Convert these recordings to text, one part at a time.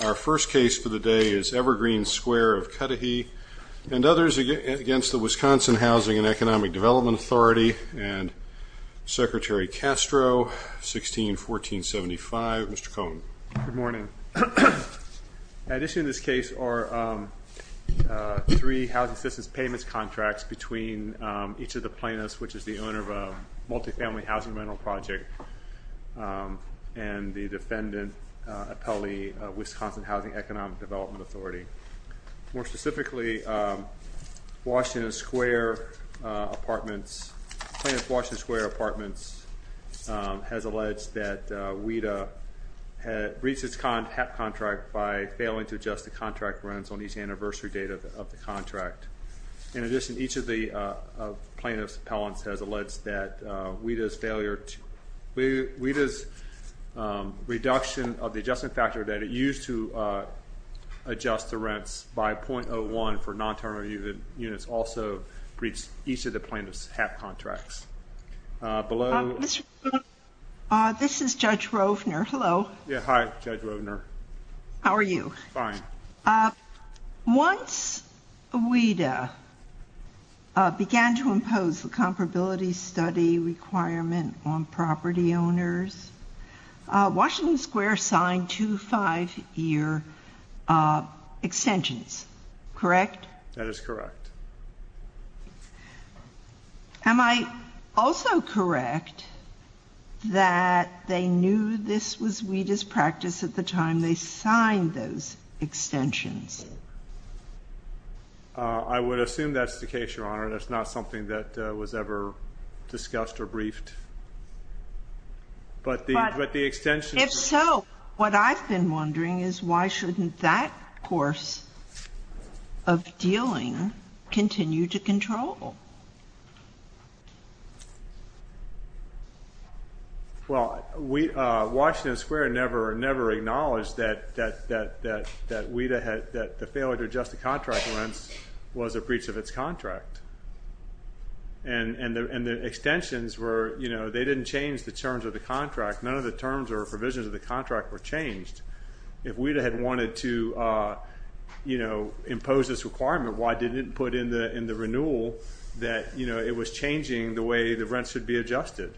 Our first case for the day is Evergreen Square of Cudahy and others against the Wisconsin Housing and Economic Development Authority and Secretary Castro, 16-1475. Mr. Cohen. Good morning. At issue in this case are three housing assistance payments contracts between each of the plaintiffs, which is the owner of a multifamily housing rental project, and the defendant, Appellee, Wisconsin Housing and Economic Development Authority. More specifically, Washington Square Apartments, plaintiff Washington Square Apartments has alleged that WIDA had breached its HAP contract by failing to adjust the contract rents on each anniversary date of the contract. In addition, each of the plaintiff's appellants has alleged that WIDA's reduction of the adjustment factor that it used to adjust the rents by .01 for non-term units also breached each of the plaintiff's HAP contracts. Mr. Cohen, this is Judge Rovner. Hello. Yeah, hi, Judge Rovner. How are you? Fine. Once WIDA began to impose the comparability study requirement on property owners, Washington Square signed two five-year extensions, correct? That is correct. Am I also correct that they knew this was WIDA's practice at the time they signed those extensions? I would assume that's the case, Your Honor. That's not something that was ever discussed or briefed. But the extensions. If so, what I've been wondering is why shouldn't that course of dealing continue to control? Well, Washington Square never acknowledged that WIDA had, that the failure to adjust the contract rents was a breach of its contract. And the extensions were, you know, they didn't change the terms of the contract. None of the terms or provisions of the contract were changed. If WIDA had wanted to, you know, impose this requirement, why didn't it put in the renewal that, you know, it was changing the way the rents should be adjusted?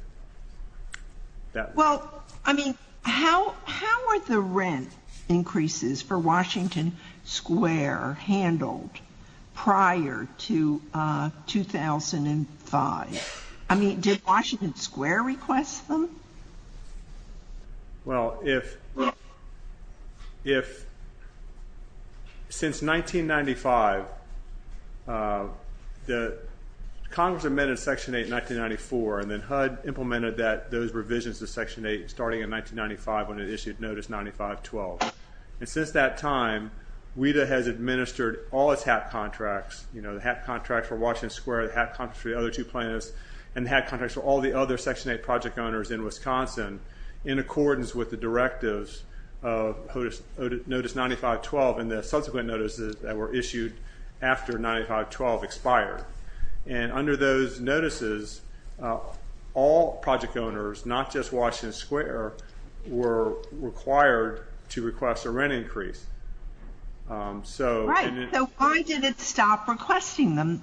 Well, I mean, how are the rent increases for Washington Square handled prior to 2005? I mean, did Washington Square request them? Well, if since 1995, Congress amended Section 8 in 1994, and then HUD implemented those revisions to Section 8 starting in 1995 when it issued Notice 95-12. And since that time, WIDA has administered all its HAT contracts, you know, the HAT contract for Washington Square, the HAT contract for the other two plaintiffs, and the HAT contracts for all the other Section 8 project owners in Wisconsin in accordance with the directives of Notice 95-12 and the subsequent notices that were issued after 95-12 expired. And under those notices, all project owners, not just Washington Square, were required to request a rent increase. Right. So why did it stop requesting them?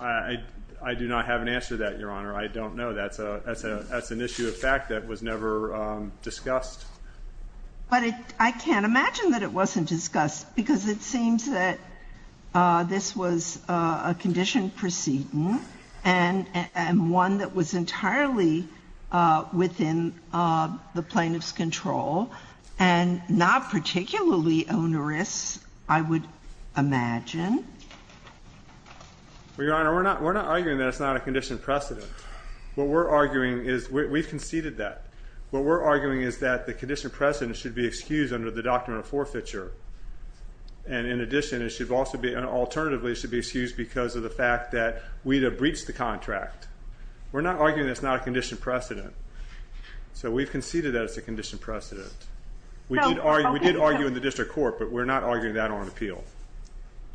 I do not have an answer to that, Your Honor. I don't know. That's an issue of fact that was never discussed. But I can't imagine that it wasn't discussed because it seems that this was a conditioned precedent and one that was entirely within the plaintiff's control and not particularly onerous, I would imagine. Well, Your Honor, we're not arguing that it's not a conditioned precedent. What we're arguing is, we've conceded that. What we're arguing is that the conditioned precedent should be excused under the Doctrine of Forfeiture. And in addition, it should also be, alternatively, it should be excused because of the fact that WIDA breached the contract. We're not arguing that it's not a conditioned precedent. So we've conceded that it's a conditioned precedent. We did argue in the district court, but we're not arguing that on appeal.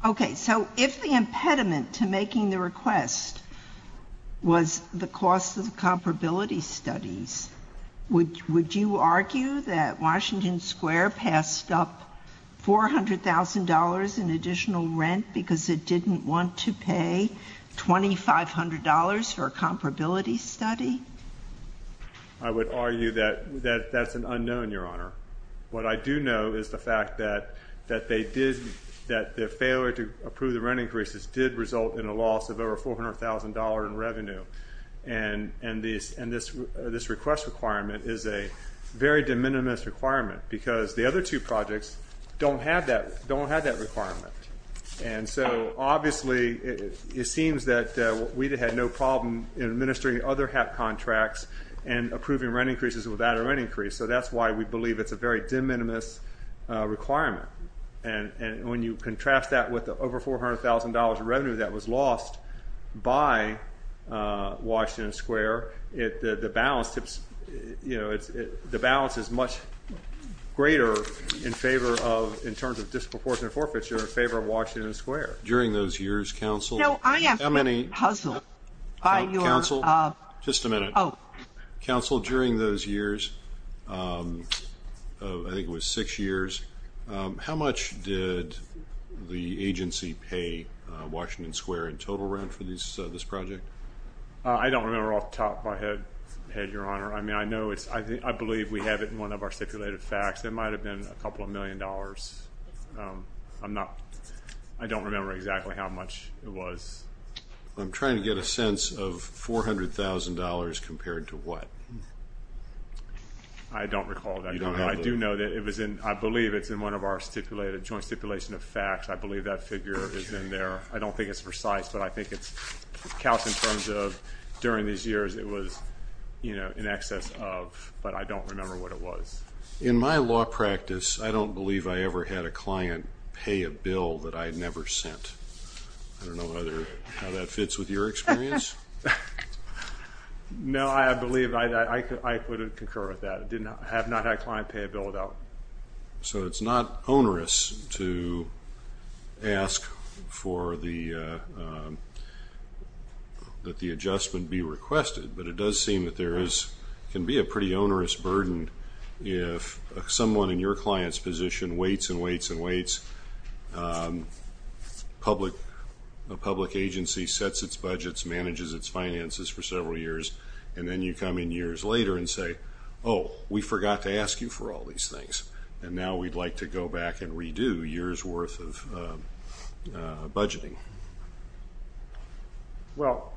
Okay. So if the impediment to making the request was the cost of comparability studies, would you argue that Washington Square passed up $400,000 in additional rent because it didn't want to pay $2,500 for a comparability study? I would argue that that's an unknown, Your Honor. What I do know is the fact that they did, that the failure to approve the rent increases did result in a loss of over $400,000 in revenue. And this request requirement is a very de minimis requirement because the other two projects don't have that requirement. And so, obviously, it seems that WIDA had no problem in administering other HAP contracts and approving rent increases without a rent increase. So that's why we believe it's a very de minimis requirement. And when you contrast that with the over $400,000 in revenue that was lost by Washington Square, the balance is much greater in terms of disproportionate forfeiture in favor of Washington Square. During those years, counsel, just a minute. Counsel, during those years, I think it was six years, how much did the agency pay Washington Square in total rent for this project? I don't remember off the top of my head, Your Honor. I mean, I know it's, I believe we have it in one of our stipulated facts. It might have been a couple of million dollars. I'm not, I don't remember exactly how much it was. I'm trying to get a sense of $400,000 compared to what? I don't recall that. I do know that it was in, I believe it's in one of our stipulated, joint stipulation of facts. I believe that figure is in there. I don't think it's precise, but I think it's, counsel, in terms of during these years, it was, you know, in excess of, but I don't remember what it was. In my law practice, I don't believe I ever had a client pay a bill that I had never sent. I don't know whether, how that fits with your experience. No, I believe, I couldn't concur with that. I have not had a client pay a bill without. So it's not onerous to ask for the, that the adjustment be requested, but it does seem that there is, can be a pretty onerous burden if someone in your client's position waits and waits and waits. Public agency sets its budgets, manages its finances for several years, and then you come in years later and say, oh, we forgot to ask you for all these things, and now we'd like to go back and redo years worth of budgeting. Well,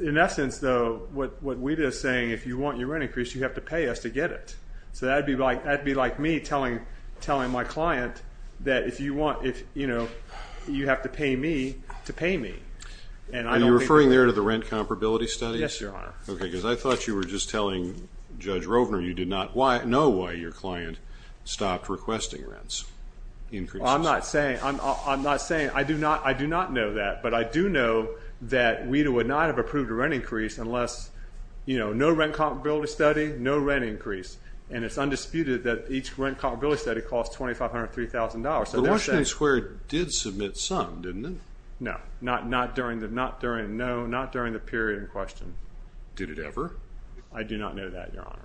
in essence, though, what we did is saying if you want your rent increased, you have to pay us to get it. So that'd be like me telling my client that if you want, you know, you have to pay me to pay me. Are you referring there to the rent comparability studies? Yes, Your Honor. Okay, because I thought you were just telling Judge Rovner you did not know why your client stopped requesting rents. I'm not saying, I do not know that, but I do know that WIDA would not have approved a rent increase unless, you know, no rent comparability study, no rent increase. And it's undisputed that each rent comparability study costs $2,500 or $3,000. But Washington Square did submit some, didn't it? No, not during the period in question. Did it ever? I do not know that, Your Honor.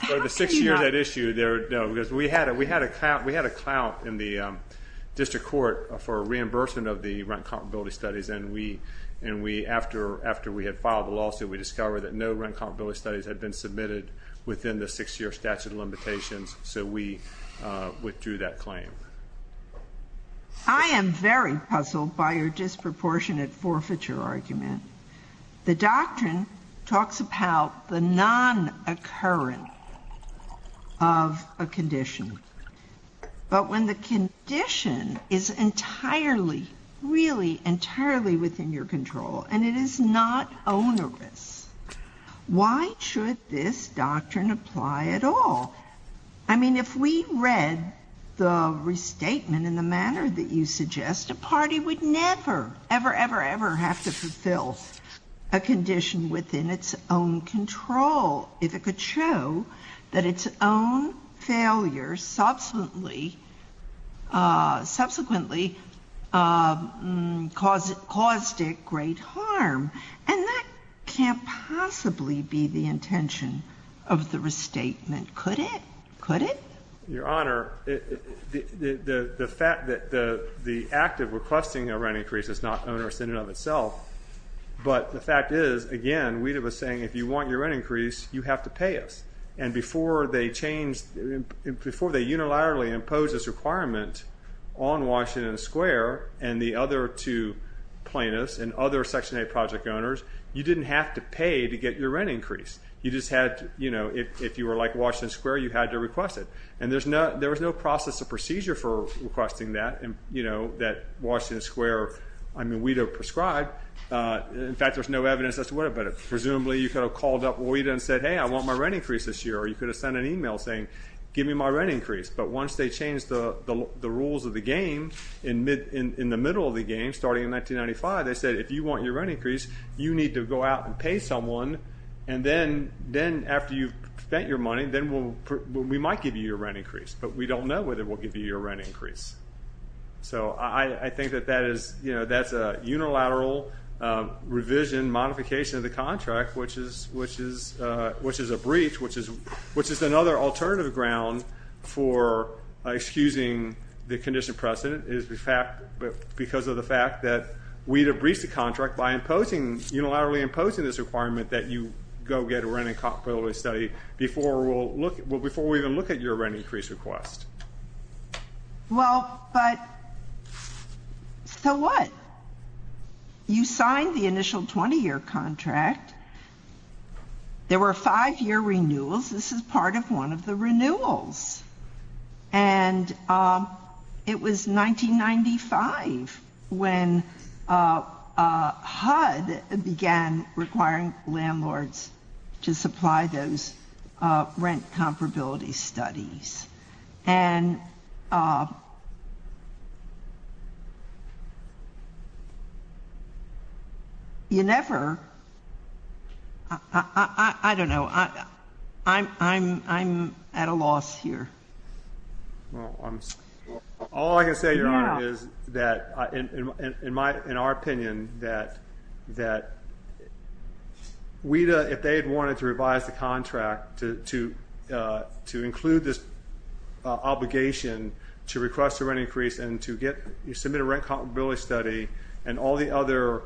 For the six years at issue, no, because we had a clout in the district court for reimbursement of the rent comparability studies. And we, after we had filed the lawsuit, we discovered that no rent comparability studies had been submitted within the six-year statute of limitations. So we withdrew that claim. I am very puzzled by your disproportionate forfeiture argument. The doctrine talks about the non-occurrence of a condition. But when the condition is entirely, really entirely within your control, and it is not onerous, why should this doctrine apply at all? I mean, if we read the restatement in the manner that you suggest, a party would never, ever, ever, ever have to fulfill a condition within its own control. If it could show that its own failure subsequently caused it great harm. And that can't possibly be the intention of the restatement, could it? Could it? Your Honor, the fact that the act of requesting a rent increase is not onerous in and of itself. But the fact is, again, we'd have a saying, if you want your rent increase, you have to pay us. And before they changed, before they unilaterally imposed this requirement on Washington Square and the other two plaintiffs and other Section 8 project owners, you didn't have to pay to get your rent increase. You just had to, you know, if you were like Washington Square, you had to request it. And there was no process or procedure for requesting that, you know, that Washington Square, I mean, WIDA prescribed. In fact, there's no evidence as to whether, but presumably you could have called up WIDA and said, hey, I want my rent increase this year. Or you could have sent an email saying, give me my rent increase. But once they changed the rules of the game in the middle of the game, starting in 1995, they said, if you want your rent increase, you need to go out and pay someone. And then after you've spent your money, then we might give you your rent increase. But we don't know whether we'll give you your rent increase. So I think that that is, you know, that's a unilateral revision, modification of the contract, which is a breach, which is another alternative ground for excusing the condition precedent. It is because of the fact that WIDA breached the contract by unilaterally imposing this requirement that you go get a rent incompatibility study before we'll even look at your rent increase request. Well, but so what? You signed the initial 20-year contract. There were five-year renewals. This is part of one of the renewals. And it was 1995 when HUD began requiring landlords to supply those rent comparability studies. And you never, I don't know, I'm at a loss here. All I can say, Your Honor, is that, in our opinion, that WIDA, if they had wanted to revise the contract to include this obligation to request a rent increase and to get, submit a rent comparability study and all the other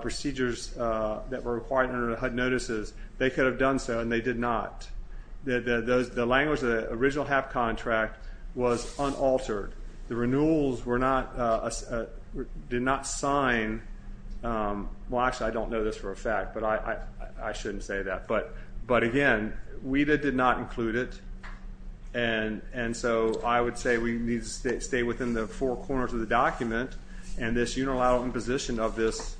procedures that were required under the HUD notices, they could have done so, and they did not. The language of the original HAP contract was unaltered. The renewals were not, did not sign. Well, actually, I don't know this for a fact, but I shouldn't say that. But again, WIDA did not include it, and so I would say we need to stay within the four corners of the document. And this unilateral imposition of this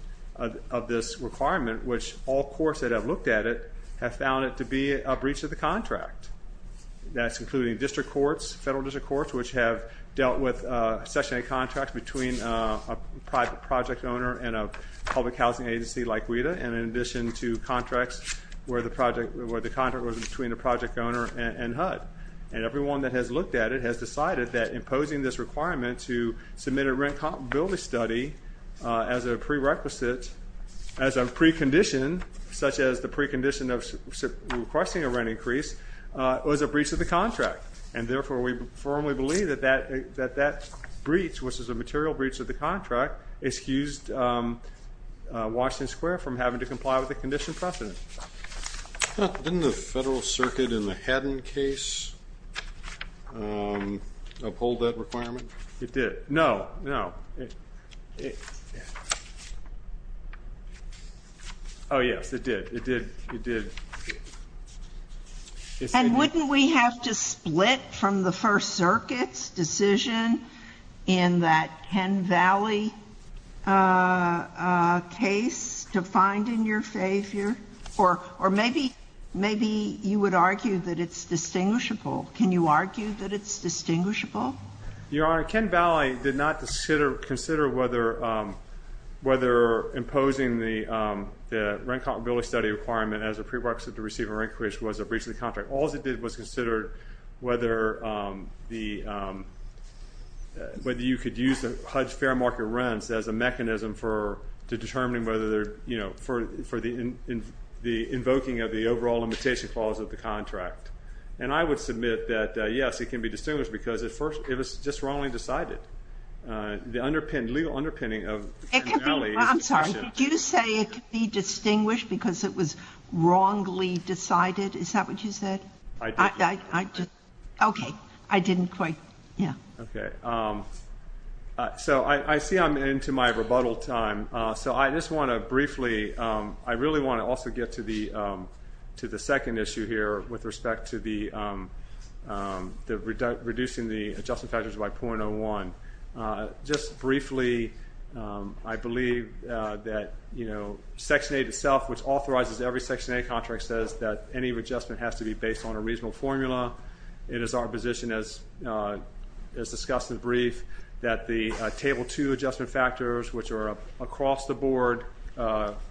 requirement, which all courts that have looked at it have found it to be a breach of the contract. That's including district courts, federal district courts, which have dealt with Section 8 contracts between a private project owner and a public housing agency like WIDA, and in addition to contracts where the project, where the contract was between the project owner and HUD. And everyone that has looked at it has decided that imposing this requirement to submit a rent comparability study as a prerequisite, as a precondition, such as the precondition of requesting a rent increase, was a breach of the contract. And therefore, we firmly believe that that breach, which is a material breach of the contract, excused Washington Square from having to comply with the condition precedent. Didn't the Federal Circuit in the Haddon case uphold that requirement? It did. No, no. Oh, yes, it did. It did. It did. And wouldn't we have to split from the First Circuit's decision in that Ken Valley case to find in your favor? Or maybe you would argue that it's distinguishable. Can you argue that it's distinguishable? Your Honor, Ken Valley did not consider whether imposing the rent comparability study requirement as a prerequisite to receive a rent increase was a breach of the contract. All it did was consider whether you could use the HUD's fair market rents as a mechanism for determining whether, you know, for the invoking of the overall limitation clause of the contract. And I would submit that, yes, it can be distinguished because at first it was just wrongly decided. The legal underpinning of Ken Valley is the question. I'm sorry. Did you say it could be distinguished because it was wrongly decided? Is that what you said? I did. Okay. I didn't quite. Yeah. Okay. So I see I'm into my rebuttal time. So I just want to briefly, I really want to also get to the second issue here with respect to reducing the adjustment factors by .01. Just briefly, I believe that, you know, Section 8 itself, which authorizes every Section 8 contract, says that any adjustment has to be based on a reasonable formula. It is our position, as discussed in the brief, that the Table 2 adjustment factors, which are across the board,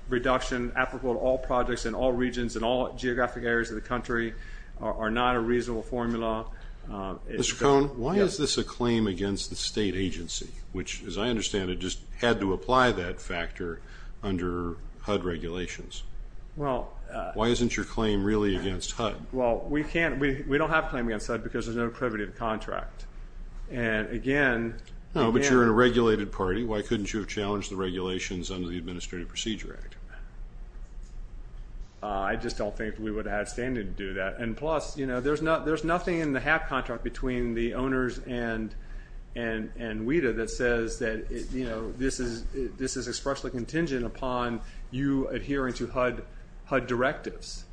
reduction applicable to all projects in all regions and all geographic areas of the country, are not a reasonable formula. Mr. Cohn, why is this a claim against the state agency, which, as I understand it, just had to apply that factor under HUD regulations? Well. Why isn't your claim really against HUD? Well, we can't. We don't have a claim against HUD because there's no privity to the contract. And again. No, but you're in a regulated party. Why couldn't you have challenged the regulations under the Administrative Procedure Act? I just don't think we would have had standing to do that. And plus, you know, there's nothing in the HAP contract between the owners and WIDA that says that, you know, this is expressly contingent upon you adhering to HUD directives.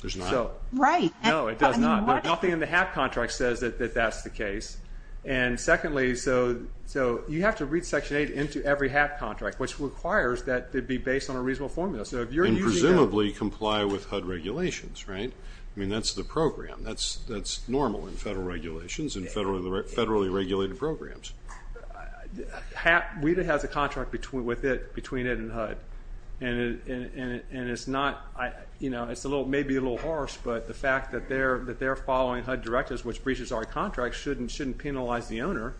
There's not. Right. No, it does not. Nothing in the HAP contract says that that's the case. And secondly, so you have to read Section 8 into every HAP contract, which requires that it be based on a reasonable formula. And presumably comply with HUD regulations, right? I mean, that's the program. That's normal in federal regulations and federally regulated programs. WIDA has a contract with it between it and HUD. And it's not, you know, it may be a little harsh, but the fact that they're following HUD directives, which breaches our contract, shouldn't penalize the owner.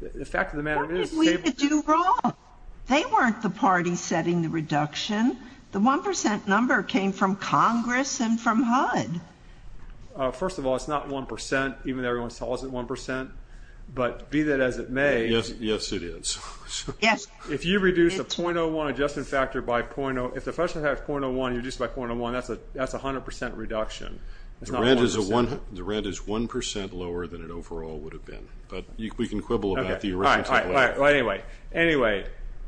What did WIDA do wrong? They weren't the party setting the reduction. The 1% number came from Congress and from HUD. First of all, it's not 1%, even though everyone saw it as 1%. But be that as it may. Yes, it is. Yes. If you reduce the .01 adjustment factor by .01, that's a 100% reduction. The rent is 1% lower than it overall would have been. But we can quibble about the original. Anyway,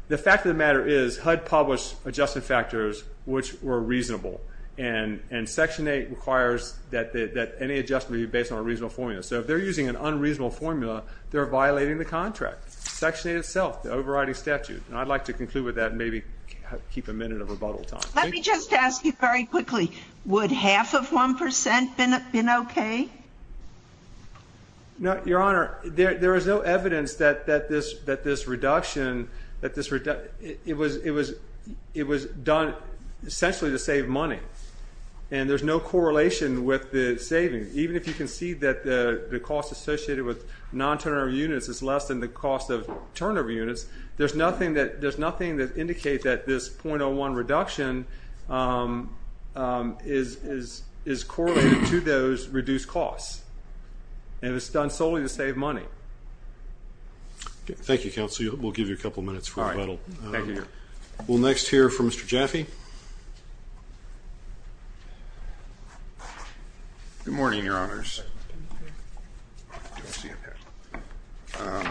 the fact of the matter is HUD published adjustment factors which were reasonable. And Section 8 requires that any adjustment be based on a reasonable formula. So if they're using an unreasonable formula, they're violating the contract. Section 8 itself, the overriding statute. And I'd like to conclude with that and maybe keep a minute of rebuttal time. Let me just ask you very quickly. Would half of 1% have been okay? Your Honor, there is no evidence that this reduction, it was done essentially to save money. And there's no correlation with the savings. Even if you can see that the cost associated with non-turnover units is less than the cost of turnover units, there's nothing that indicates that this .01 reduction is correlated to those reduced costs. And it's done solely to save money. Thank you, Counsel. We'll give you a couple minutes for rebuttal. All right. Thank you, Your Honor. We'll next hear from Mr. Jaffe. Mr. Jaffe. Good morning, Your Honors. Can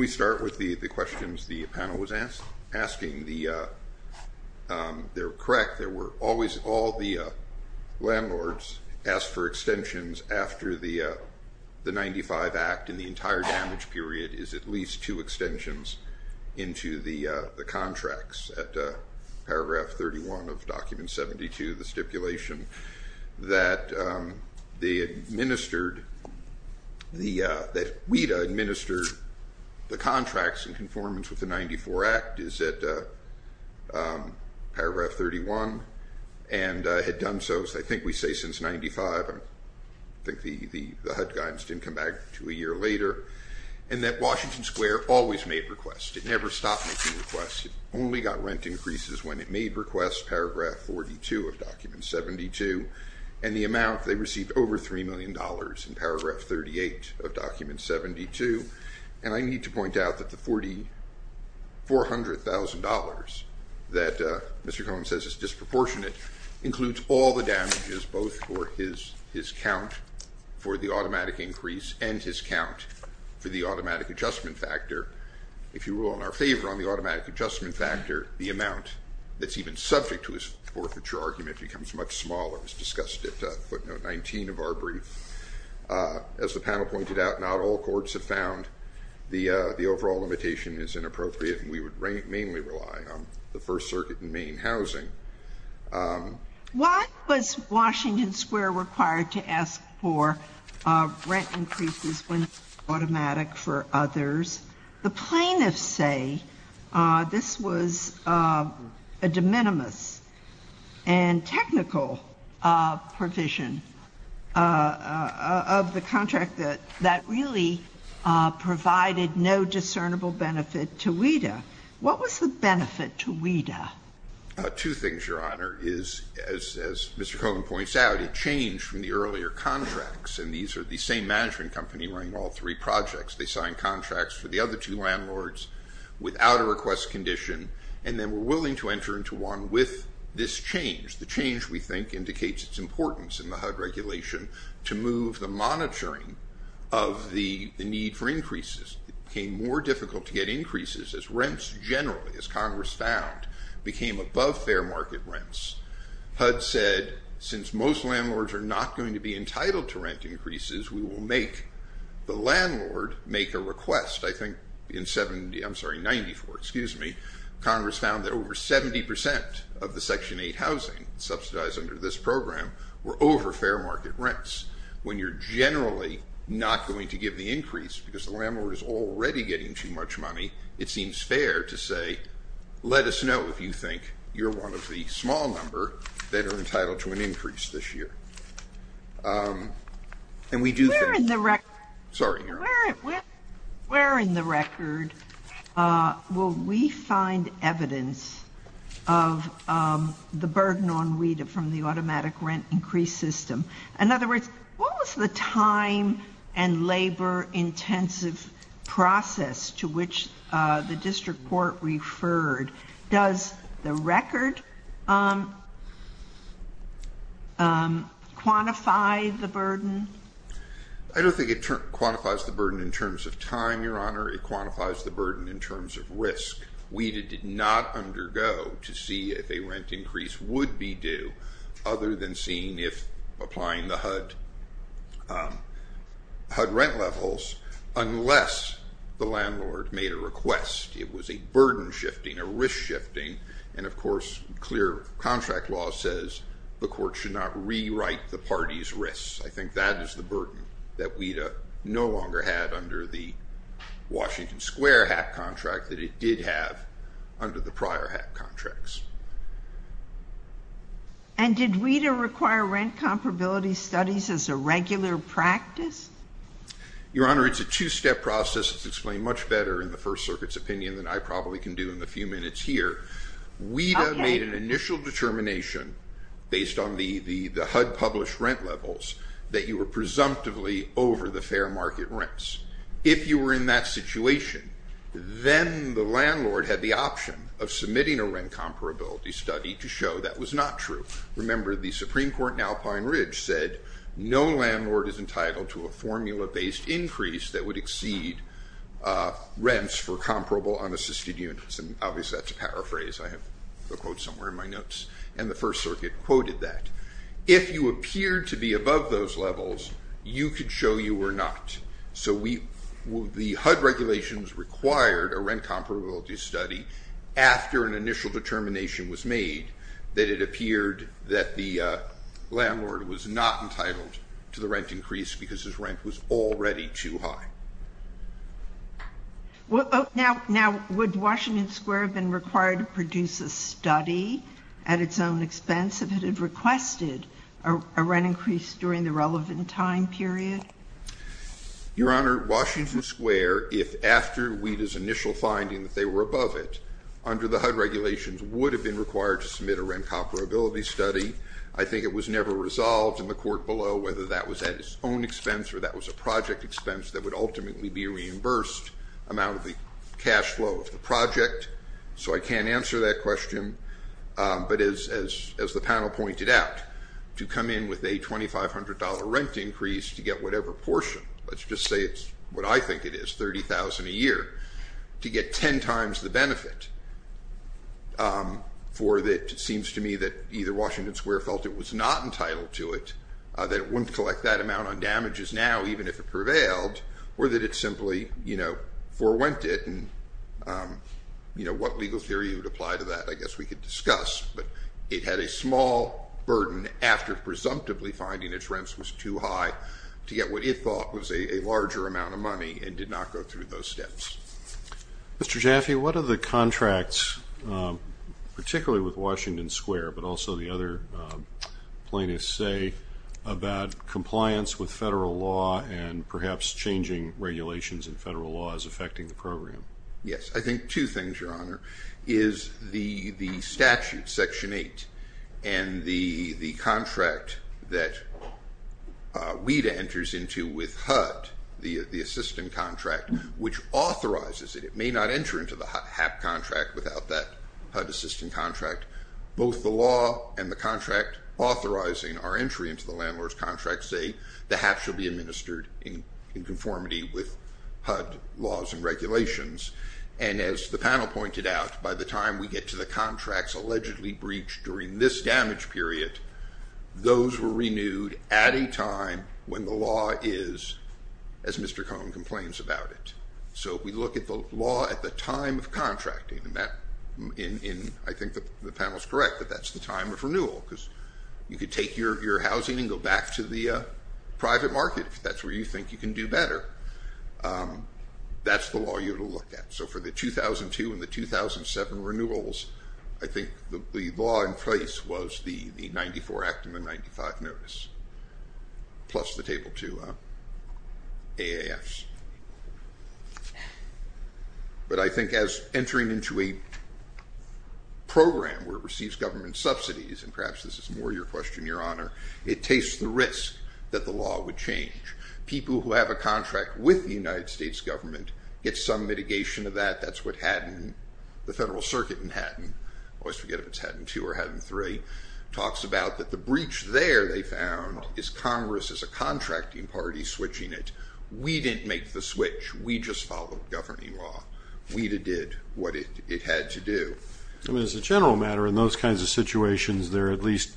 we start with the questions the panel was asking? They were correct. There were always all the landlords asked for extensions after the 95 Act and the entire damage period is at least two extensions into the contracts at paragraph 31 of document 72, the stipulation that WIDA administered the contracts in conformance with the 94 Act is at paragraph 31 and had done so, I think we say since 95. I think the HUD guidance didn't come back until a year later. And that Washington Square always made requests. It never stopped making requests. It only got rent increases when it made requests, paragraph 42 of document 72, and the amount they received over $3 million in paragraph 38 of document 72. And I need to point out that the $400,000 that Mr. Cohen says is disproportionate includes all the damages, both for his count for the automatic increase and his count for the automatic adjustment factor. If you rule in our favor on the automatic adjustment factor, the amount that's even subject to his forfeiture argument becomes much smaller, as discussed at footnote 19 of our brief. As the panel pointed out, not all courts have found the overall limitation is inappropriate, and we would mainly rely on the First Circuit and Maine Housing. Why was Washington Square required to ask for rent increases when it was automatic for others? The plaintiffs say this was a de minimis and technical provision of the contract that really provided no discernible benefit to WIDA. What was the benefit to WIDA? Two things, Your Honor. As Mr. Cohen points out, it changed from the earlier contracts, and these are the same management company running all three projects. They signed contracts for the other two landlords without a request condition, and then were willing to enter into one with this change. The change, we think, indicates its importance in the HUD regulation to move the monitoring of the need for increases. It became more difficult to get increases as rents generally, as Congress found, became above fair market rents. HUD said since most landlords are not going to be entitled to rent increases, we will make the landlord make a request. In 1994, Congress found that over 70% of the Section 8 housing subsidized under this program were over fair market rents. When you're generally not going to give the increase because the landlord is already getting too much money, it seems fair to say, let us know if you think you're one of the small number that are entitled to an increase this year. Where in the record will we find evidence of the burden on RETA from the automatic rent increase system? In other words, what was the time and labor intensive process to which the district court referred? Does the record quantify the burden? I don't think it quantifies the burden in terms of time, Your Honor. It quantifies the burden in terms of risk. We did not undergo to see if a rent increase would be due, other than seeing if applying the HUD rent levels, unless the landlord made a request. It was a burden shifting, a risk shifting, and of course, clear contract law says the court should not rewrite the party's risk. I think that is the burden that RETA no longer had under the Washington Square HAP contract that it did have under the prior HAP contracts. And did RETA require rent comparability studies as a regular practice? Your Honor, it's a two-step process. It's explained much better in the First Circuit's opinion than I probably can do in the few minutes here. RETA made an initial determination based on the HUD published rent levels that you were presumptively over the fair market rents. If you were in that situation, then the landlord had the option of submitting a rent comparability study to show that was not true. Remember, the Supreme Court in Alpine Ridge said no landlord is entitled to a formula-based increase that would exceed rents for comparable unassisted units. And obviously, that's a paraphrase. I have a quote somewhere in my notes. And the First Circuit quoted that. If you appeared to be above those levels, you could show you were not. So the HUD regulations required a rent comparability study after an initial determination was made that it appeared that the landlord was not entitled to the rent increase because his rent was already too high. Now, would Washington Square have been required to produce a study at its own expense if it had requested a rent increase during the relevant time period? Your Honor, Washington Square, if after RETA's initial finding that they were above it, under the HUD regulations, would have been required to submit a rent comparability study. I think it was never resolved in the court below whether that was at its own expense or that was a project expense that would ultimately be reimbursed amount of the cash flow of the project. So I can't answer that question. But as the panel pointed out, to come in with a $2,500 rent increase to get whatever portion, let's just say it's what I think it is, $30,000 a year, to get ten times the benefit for that it seems to me that either Washington Square felt it was not entitled to it, that it wouldn't collect that amount on damages now even if it prevailed, or that it simply, you know, forewent it. And, you know, what legal theory would apply to that I guess we could discuss. But it had a small burden after presumptively finding its rents was too high to get what it thought was a larger amount of money and did not go through those steps. Mr. Jaffe, what are the contracts, particularly with Washington Square, but also the other plaintiffs say about compliance with federal law and perhaps changing regulations in federal law as affecting the program? Yes. I think two things, Your Honor, is the statute, Section 8, and the contract that WIDA enters into with HUD, the assistant contract, which authorizes it. It may not enter into the HAP contract without that HUD assistant contract. Both the law and the contract authorizing our entry into the landlord's contract say the HAP shall be administered in conformity with HUD laws and regulations. And as the panel pointed out, by the time we get to the contracts allegedly breached during this damage period, those were renewed at a time when the law is, as Mr. Cohn complains about it. So we look at the law at the time of contracting, and I think the panel is correct that that's the time of renewal because you could take your housing and go back to the private market if that's where you think you can do better. That's the law you would look at. So for the 2002 and the 2007 renewals, I think the law in place was the 94 Act and the 95 Notice, plus the Table 2 AAFs. But I think as entering into a program where it receives government subsidies, and perhaps this is more your question, Your Honor, it takes the risk that the law would change. People who have a contract with the United States government get some mitigation of that. That's what the Federal Circuit in Haddon, I always forget if it's Haddon 2 or Haddon 3, talks about that the breach there, they found, is Congress as a contracting party switching it. We didn't make the switch. We just followed governing law. We did what it had to do. I mean, as a general matter, in those kinds of situations, there at least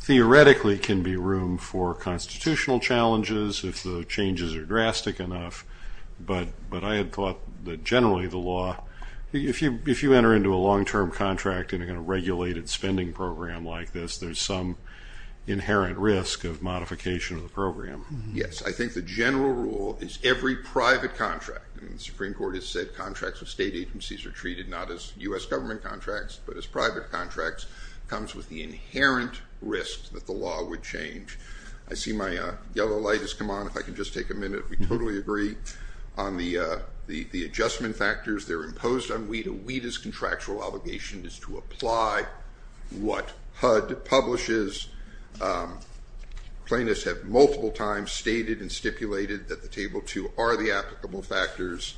theoretically can be room for constitutional challenges if the changes are drastic enough. But I had thought that generally the law, if you enter into a long-term contract in a regulated spending program like this, there's some inherent risk of modification of the program. Yes. I think the general rule is every private contract, and the Supreme Court has said contracts with state agencies are treated not as U.S. government contracts but as private contracts, comes with the inherent risk that the law would change. I see my yellow light has come on. If I can just take a minute, we totally agree. On the adjustment factors, they're imposed on WADA. WADA's contractual obligation is to apply what HUD publishes. Plaintiffs have multiple times stated and stipulated that the Table 2 are the applicable factors,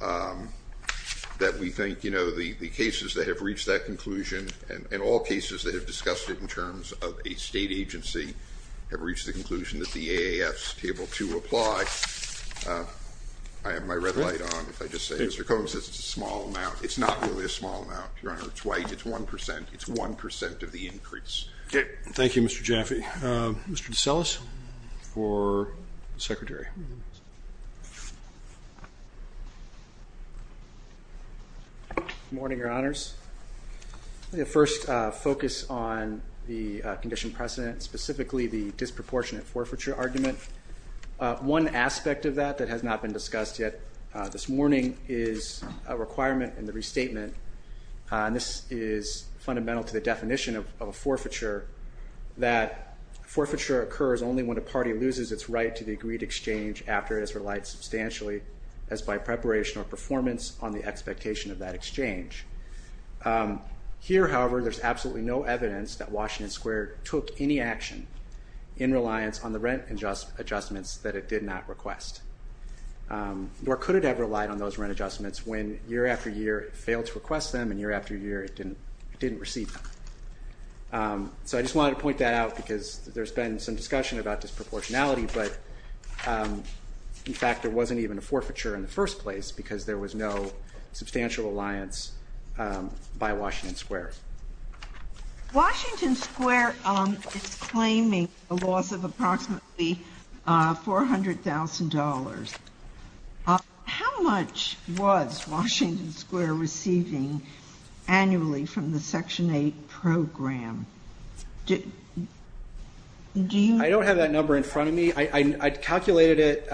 that we think the cases that have reached that conclusion and all cases that have discussed it in terms of a state agency have reached the conclusion that the AAF's Table 2 apply. I have my red light on. If I just say, Mr. Cohen says it's a small amount. It's not really a small amount, Your Honor. It's white. It's 1%. It's 1% of the increase. Thank you, Mr. Jaffe. Mr. DeSellis for the Secretary. Good morning, Your Honors. Let me first focus on the condition precedent, specifically the disproportionate forfeiture argument. One aspect of that that has not been discussed yet this morning is a requirement in the restatement, and this is fundamental to the definition of a forfeiture, that forfeiture occurs only when a party loses its right to the agreed exchange after it has relied substantially, as by preparation or performance, on the expectation of that exchange. Here, however, there's absolutely no evidence that Washington Square took any action in reliance on the rent adjustments that it did not request, nor could it have relied on those rent adjustments when year after year it failed to request them and year after year it didn't receive them. So I just wanted to point that out because there's been some discussion about disproportionality, but, in fact, there wasn't even a forfeiture in the first place because there was no substantial reliance by Washington Square. Washington Square is claiming a loss of approximately $400,000. How much was Washington Square receiving annually from the Section 8 program? I don't have that number in front of me. I calculated it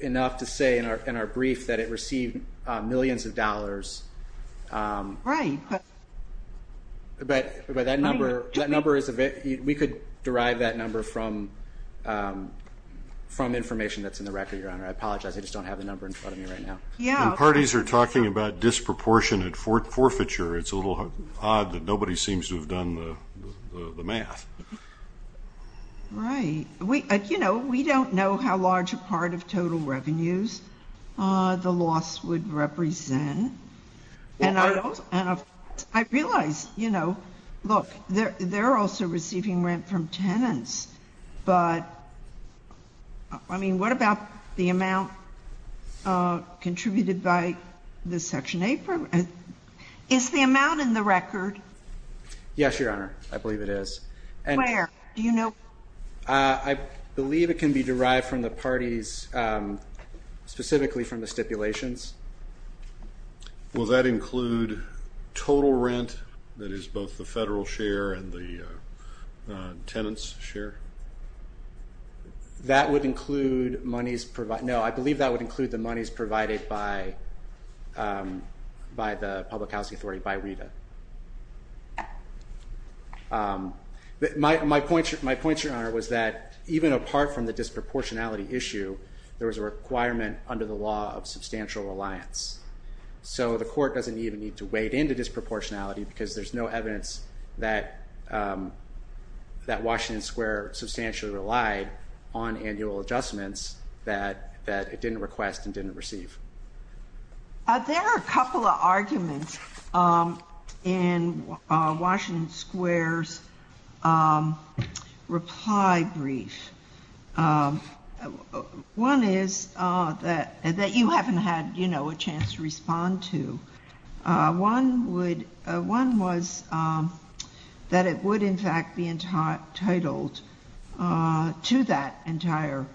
enough to say in our brief that it received millions of dollars. Right. But we could derive that number from information that's in the record, Your Honor. I apologize. I just don't have the number in front of me right now. When parties are talking about disproportionate forfeiture, it's a little odd that nobody seems to have done the math. Right. We don't know how large a part of total revenues the loss would represent. And I realize, you know, look, they're also receiving rent from tenants. But, I mean, what about the amount contributed by the Section 8 program? Is the amount in the record? Yes, Your Honor. I believe it is. Where? Do you know? I believe it can be derived from the parties, specifically from the stipulations. Will that include total rent, that is both the federal share and the tenants' share? That would include monies provided. No, I believe that would include the monies provided by the Public Housing Authority, by RETA. My point, Your Honor, was that even apart from the disproportionality issue, there was a requirement under the law of substantial reliance. So the Court doesn't even need to wade into disproportionality because there's no evidence that Washington Square substantially relied on annual adjustments that it didn't request and didn't receive. There are a couple of arguments. In Washington Square's reply brief, one is that you haven't had a chance to respond to. One was that it would, in fact, be entitled to that entire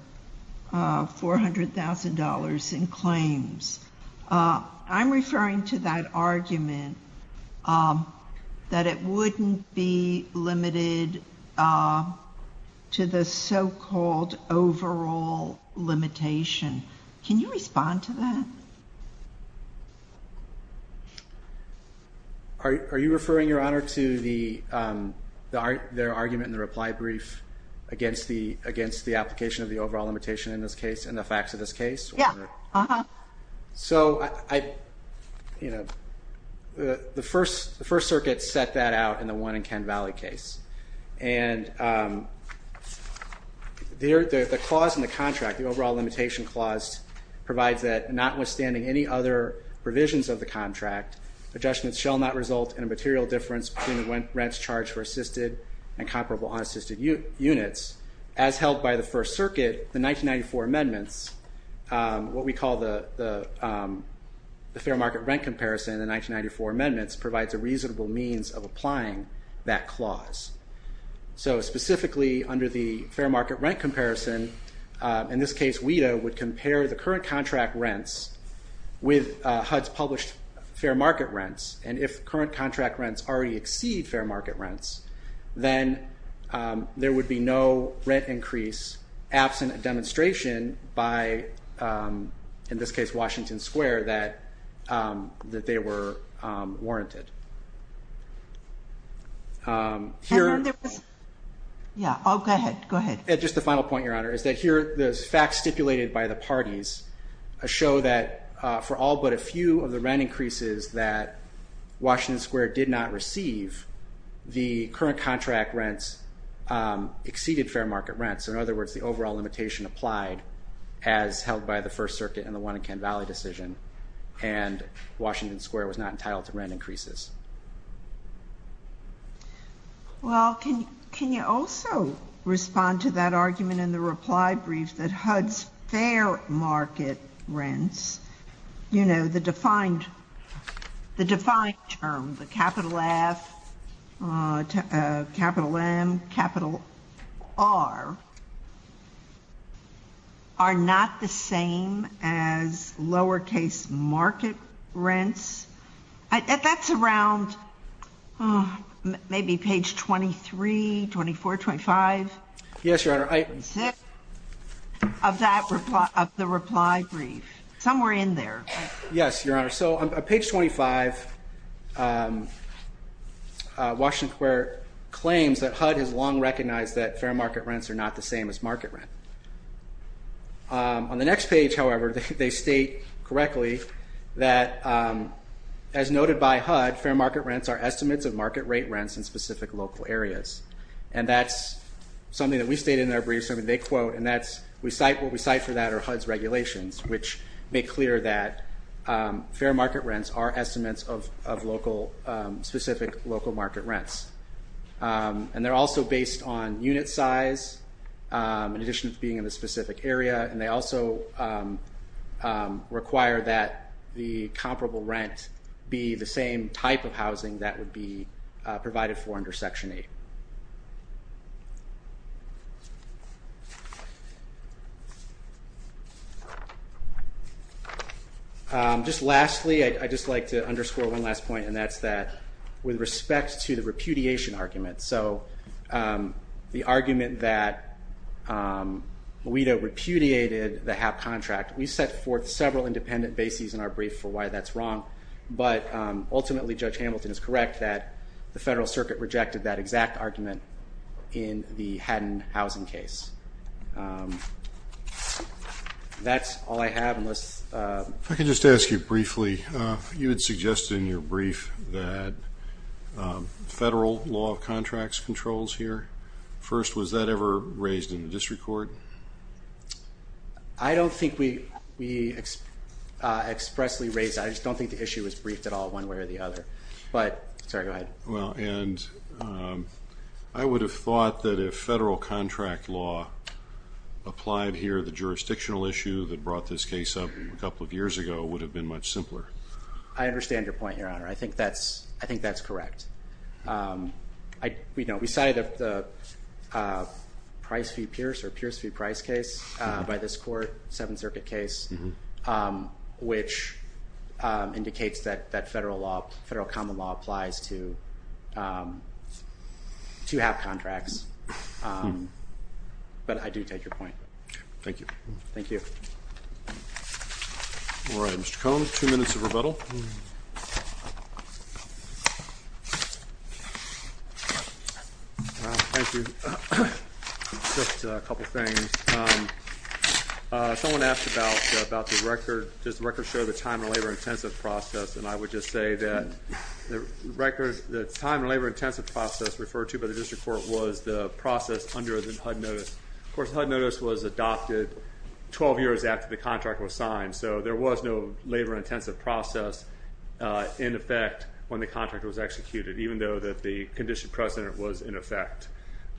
$400,000 in claims. I'm referring to that argument that it wouldn't be limited to the so-called overall limitation. Can you respond to that? Are you referring, Your Honor, to their argument in the reply brief against the application of the overall limitation in this case and the facts of this case? Yes. The First Circuit set that out in the one in Ken Valley case. The clause in the contract, the overall limitation clause, provides that notwithstanding any other provisions of the contract, adjustments shall not result in a material difference between the rents charged for assisted and comparable unassisted units. As held by the First Circuit, the 1994 amendments, what we call the Fair Market Rent Comparison in the 1994 amendments, provides a reasonable means of applying that clause. So specifically under the Fair Market Rent Comparison, in this case, WIDA would compare the current contract rents with HUD's published Fair Market Rents, and if current contract rents already exceed Fair Market Rents, then there would be no rent increase, absent a demonstration by, in this case, Washington Square, that they were warranted. Go ahead. Just the final point, Your Honor, is that here the facts stipulated by the parties show that for all but a few of the rent increases that Washington Square did not receive, the current contract rents exceeded Fair Market Rents. So in other words, the overall limitation applied as held by the First Circuit and the Wanaken Valley decision, and Washington Square was not entitled to rent increases. Well, can you also respond to that argument in the reply brief that HUD's Fair Market Rents, you know, the defined term, the capital F, capital M, capital R, are not the same as lowercase market rents? That's around maybe page 23, 24, 25? Yes, Your Honor. Of the reply brief. Somewhere in there. Yes, Your Honor. So on page 25, Washington Square claims that HUD has long recognized that Fair Market Rents are not the same as market rent. On the next page, however, they state correctly that as noted by HUD, Fair Market Rents are estimates of market rate rents in specific local areas, and that's something that we stated in our brief, something they quote, and what we cite for that are HUD's regulations, which make clear that Fair Market Rents are estimates of specific local market rents. And they're also based on unit size, in addition to being in a specific area, and they also require that the comparable rent be the same type of housing that would be provided for under Section 8. Just lastly, I'd just like to underscore one last point, and that's that with respect to the repudiation argument, so the argument that Moita repudiated the HAP contract, we set forth several independent bases in our brief for why that's wrong, but ultimately Judge Hamilton is correct that the Federal Circuit rejected that exact argument in the Haddon housing case. That's all I have. If I could just ask you briefly, you had suggested in your brief that Federal Law of Contracts controls here. First, was that ever raised in the District Court? I don't think we expressly raised that. I just don't think the issue was briefed at all one way or the other. Sorry, go ahead. I would have thought that if Federal Contract Law applied here, the jurisdictional issue that brought this case up a couple of years ago would have been much simpler. I understand your point, Your Honor. I think that's correct. We cited the Pierce v. Price case by this court, a Seventh Circuit case, which indicates that Federal Common Law applies to HAP contracts. But I do take your point. Thank you. Thank you. All right, Mr. Cohn, two minutes of rebuttal. Thank you. Just a couple of things. Someone asked about the record. Does the record show the time and labor-intensive process? And I would just say that the time and labor-intensive process referred to by the District Court was the process under the HUD notice. Of course, HUD notice was adopted 12 years after the contract was signed, so there was no labor-intensive process in effect when the contract was executed, even though the condition precedent was in effect.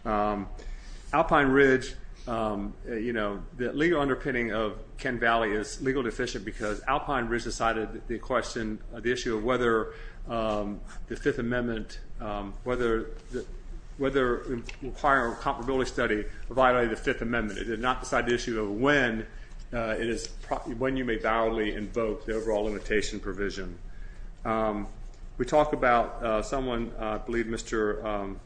Alpine Ridge, you know, the legal underpinning of Ken Valley is legally deficient because Alpine Ridge decided the question, the issue of whether the Fifth Amendment, whether requiring a comparability study violated the Fifth Amendment. It did not decide the issue of when it is, when you may validly invoke the overall limitation provision. We talk about someone, I believe Mr.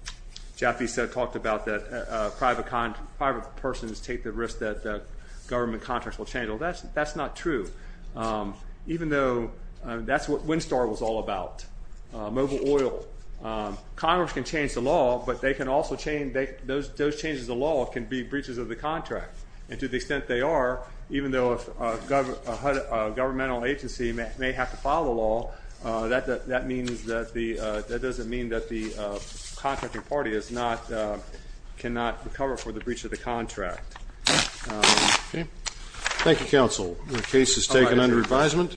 Jaffe said, talked about that private persons take the risk that government contracts will change. Well, that's not true, even though that's what WinStar was all about, mobile oil. Congress can change the law, but they can also change, those changes of law can be breaches of the contract, and to the extent they are, even though a governmental agency may have to follow the law, that means that the, that doesn't mean that the contracting party is not, cannot recover for the breach of the contract. Thank you, counsel. The case is taken under advisement.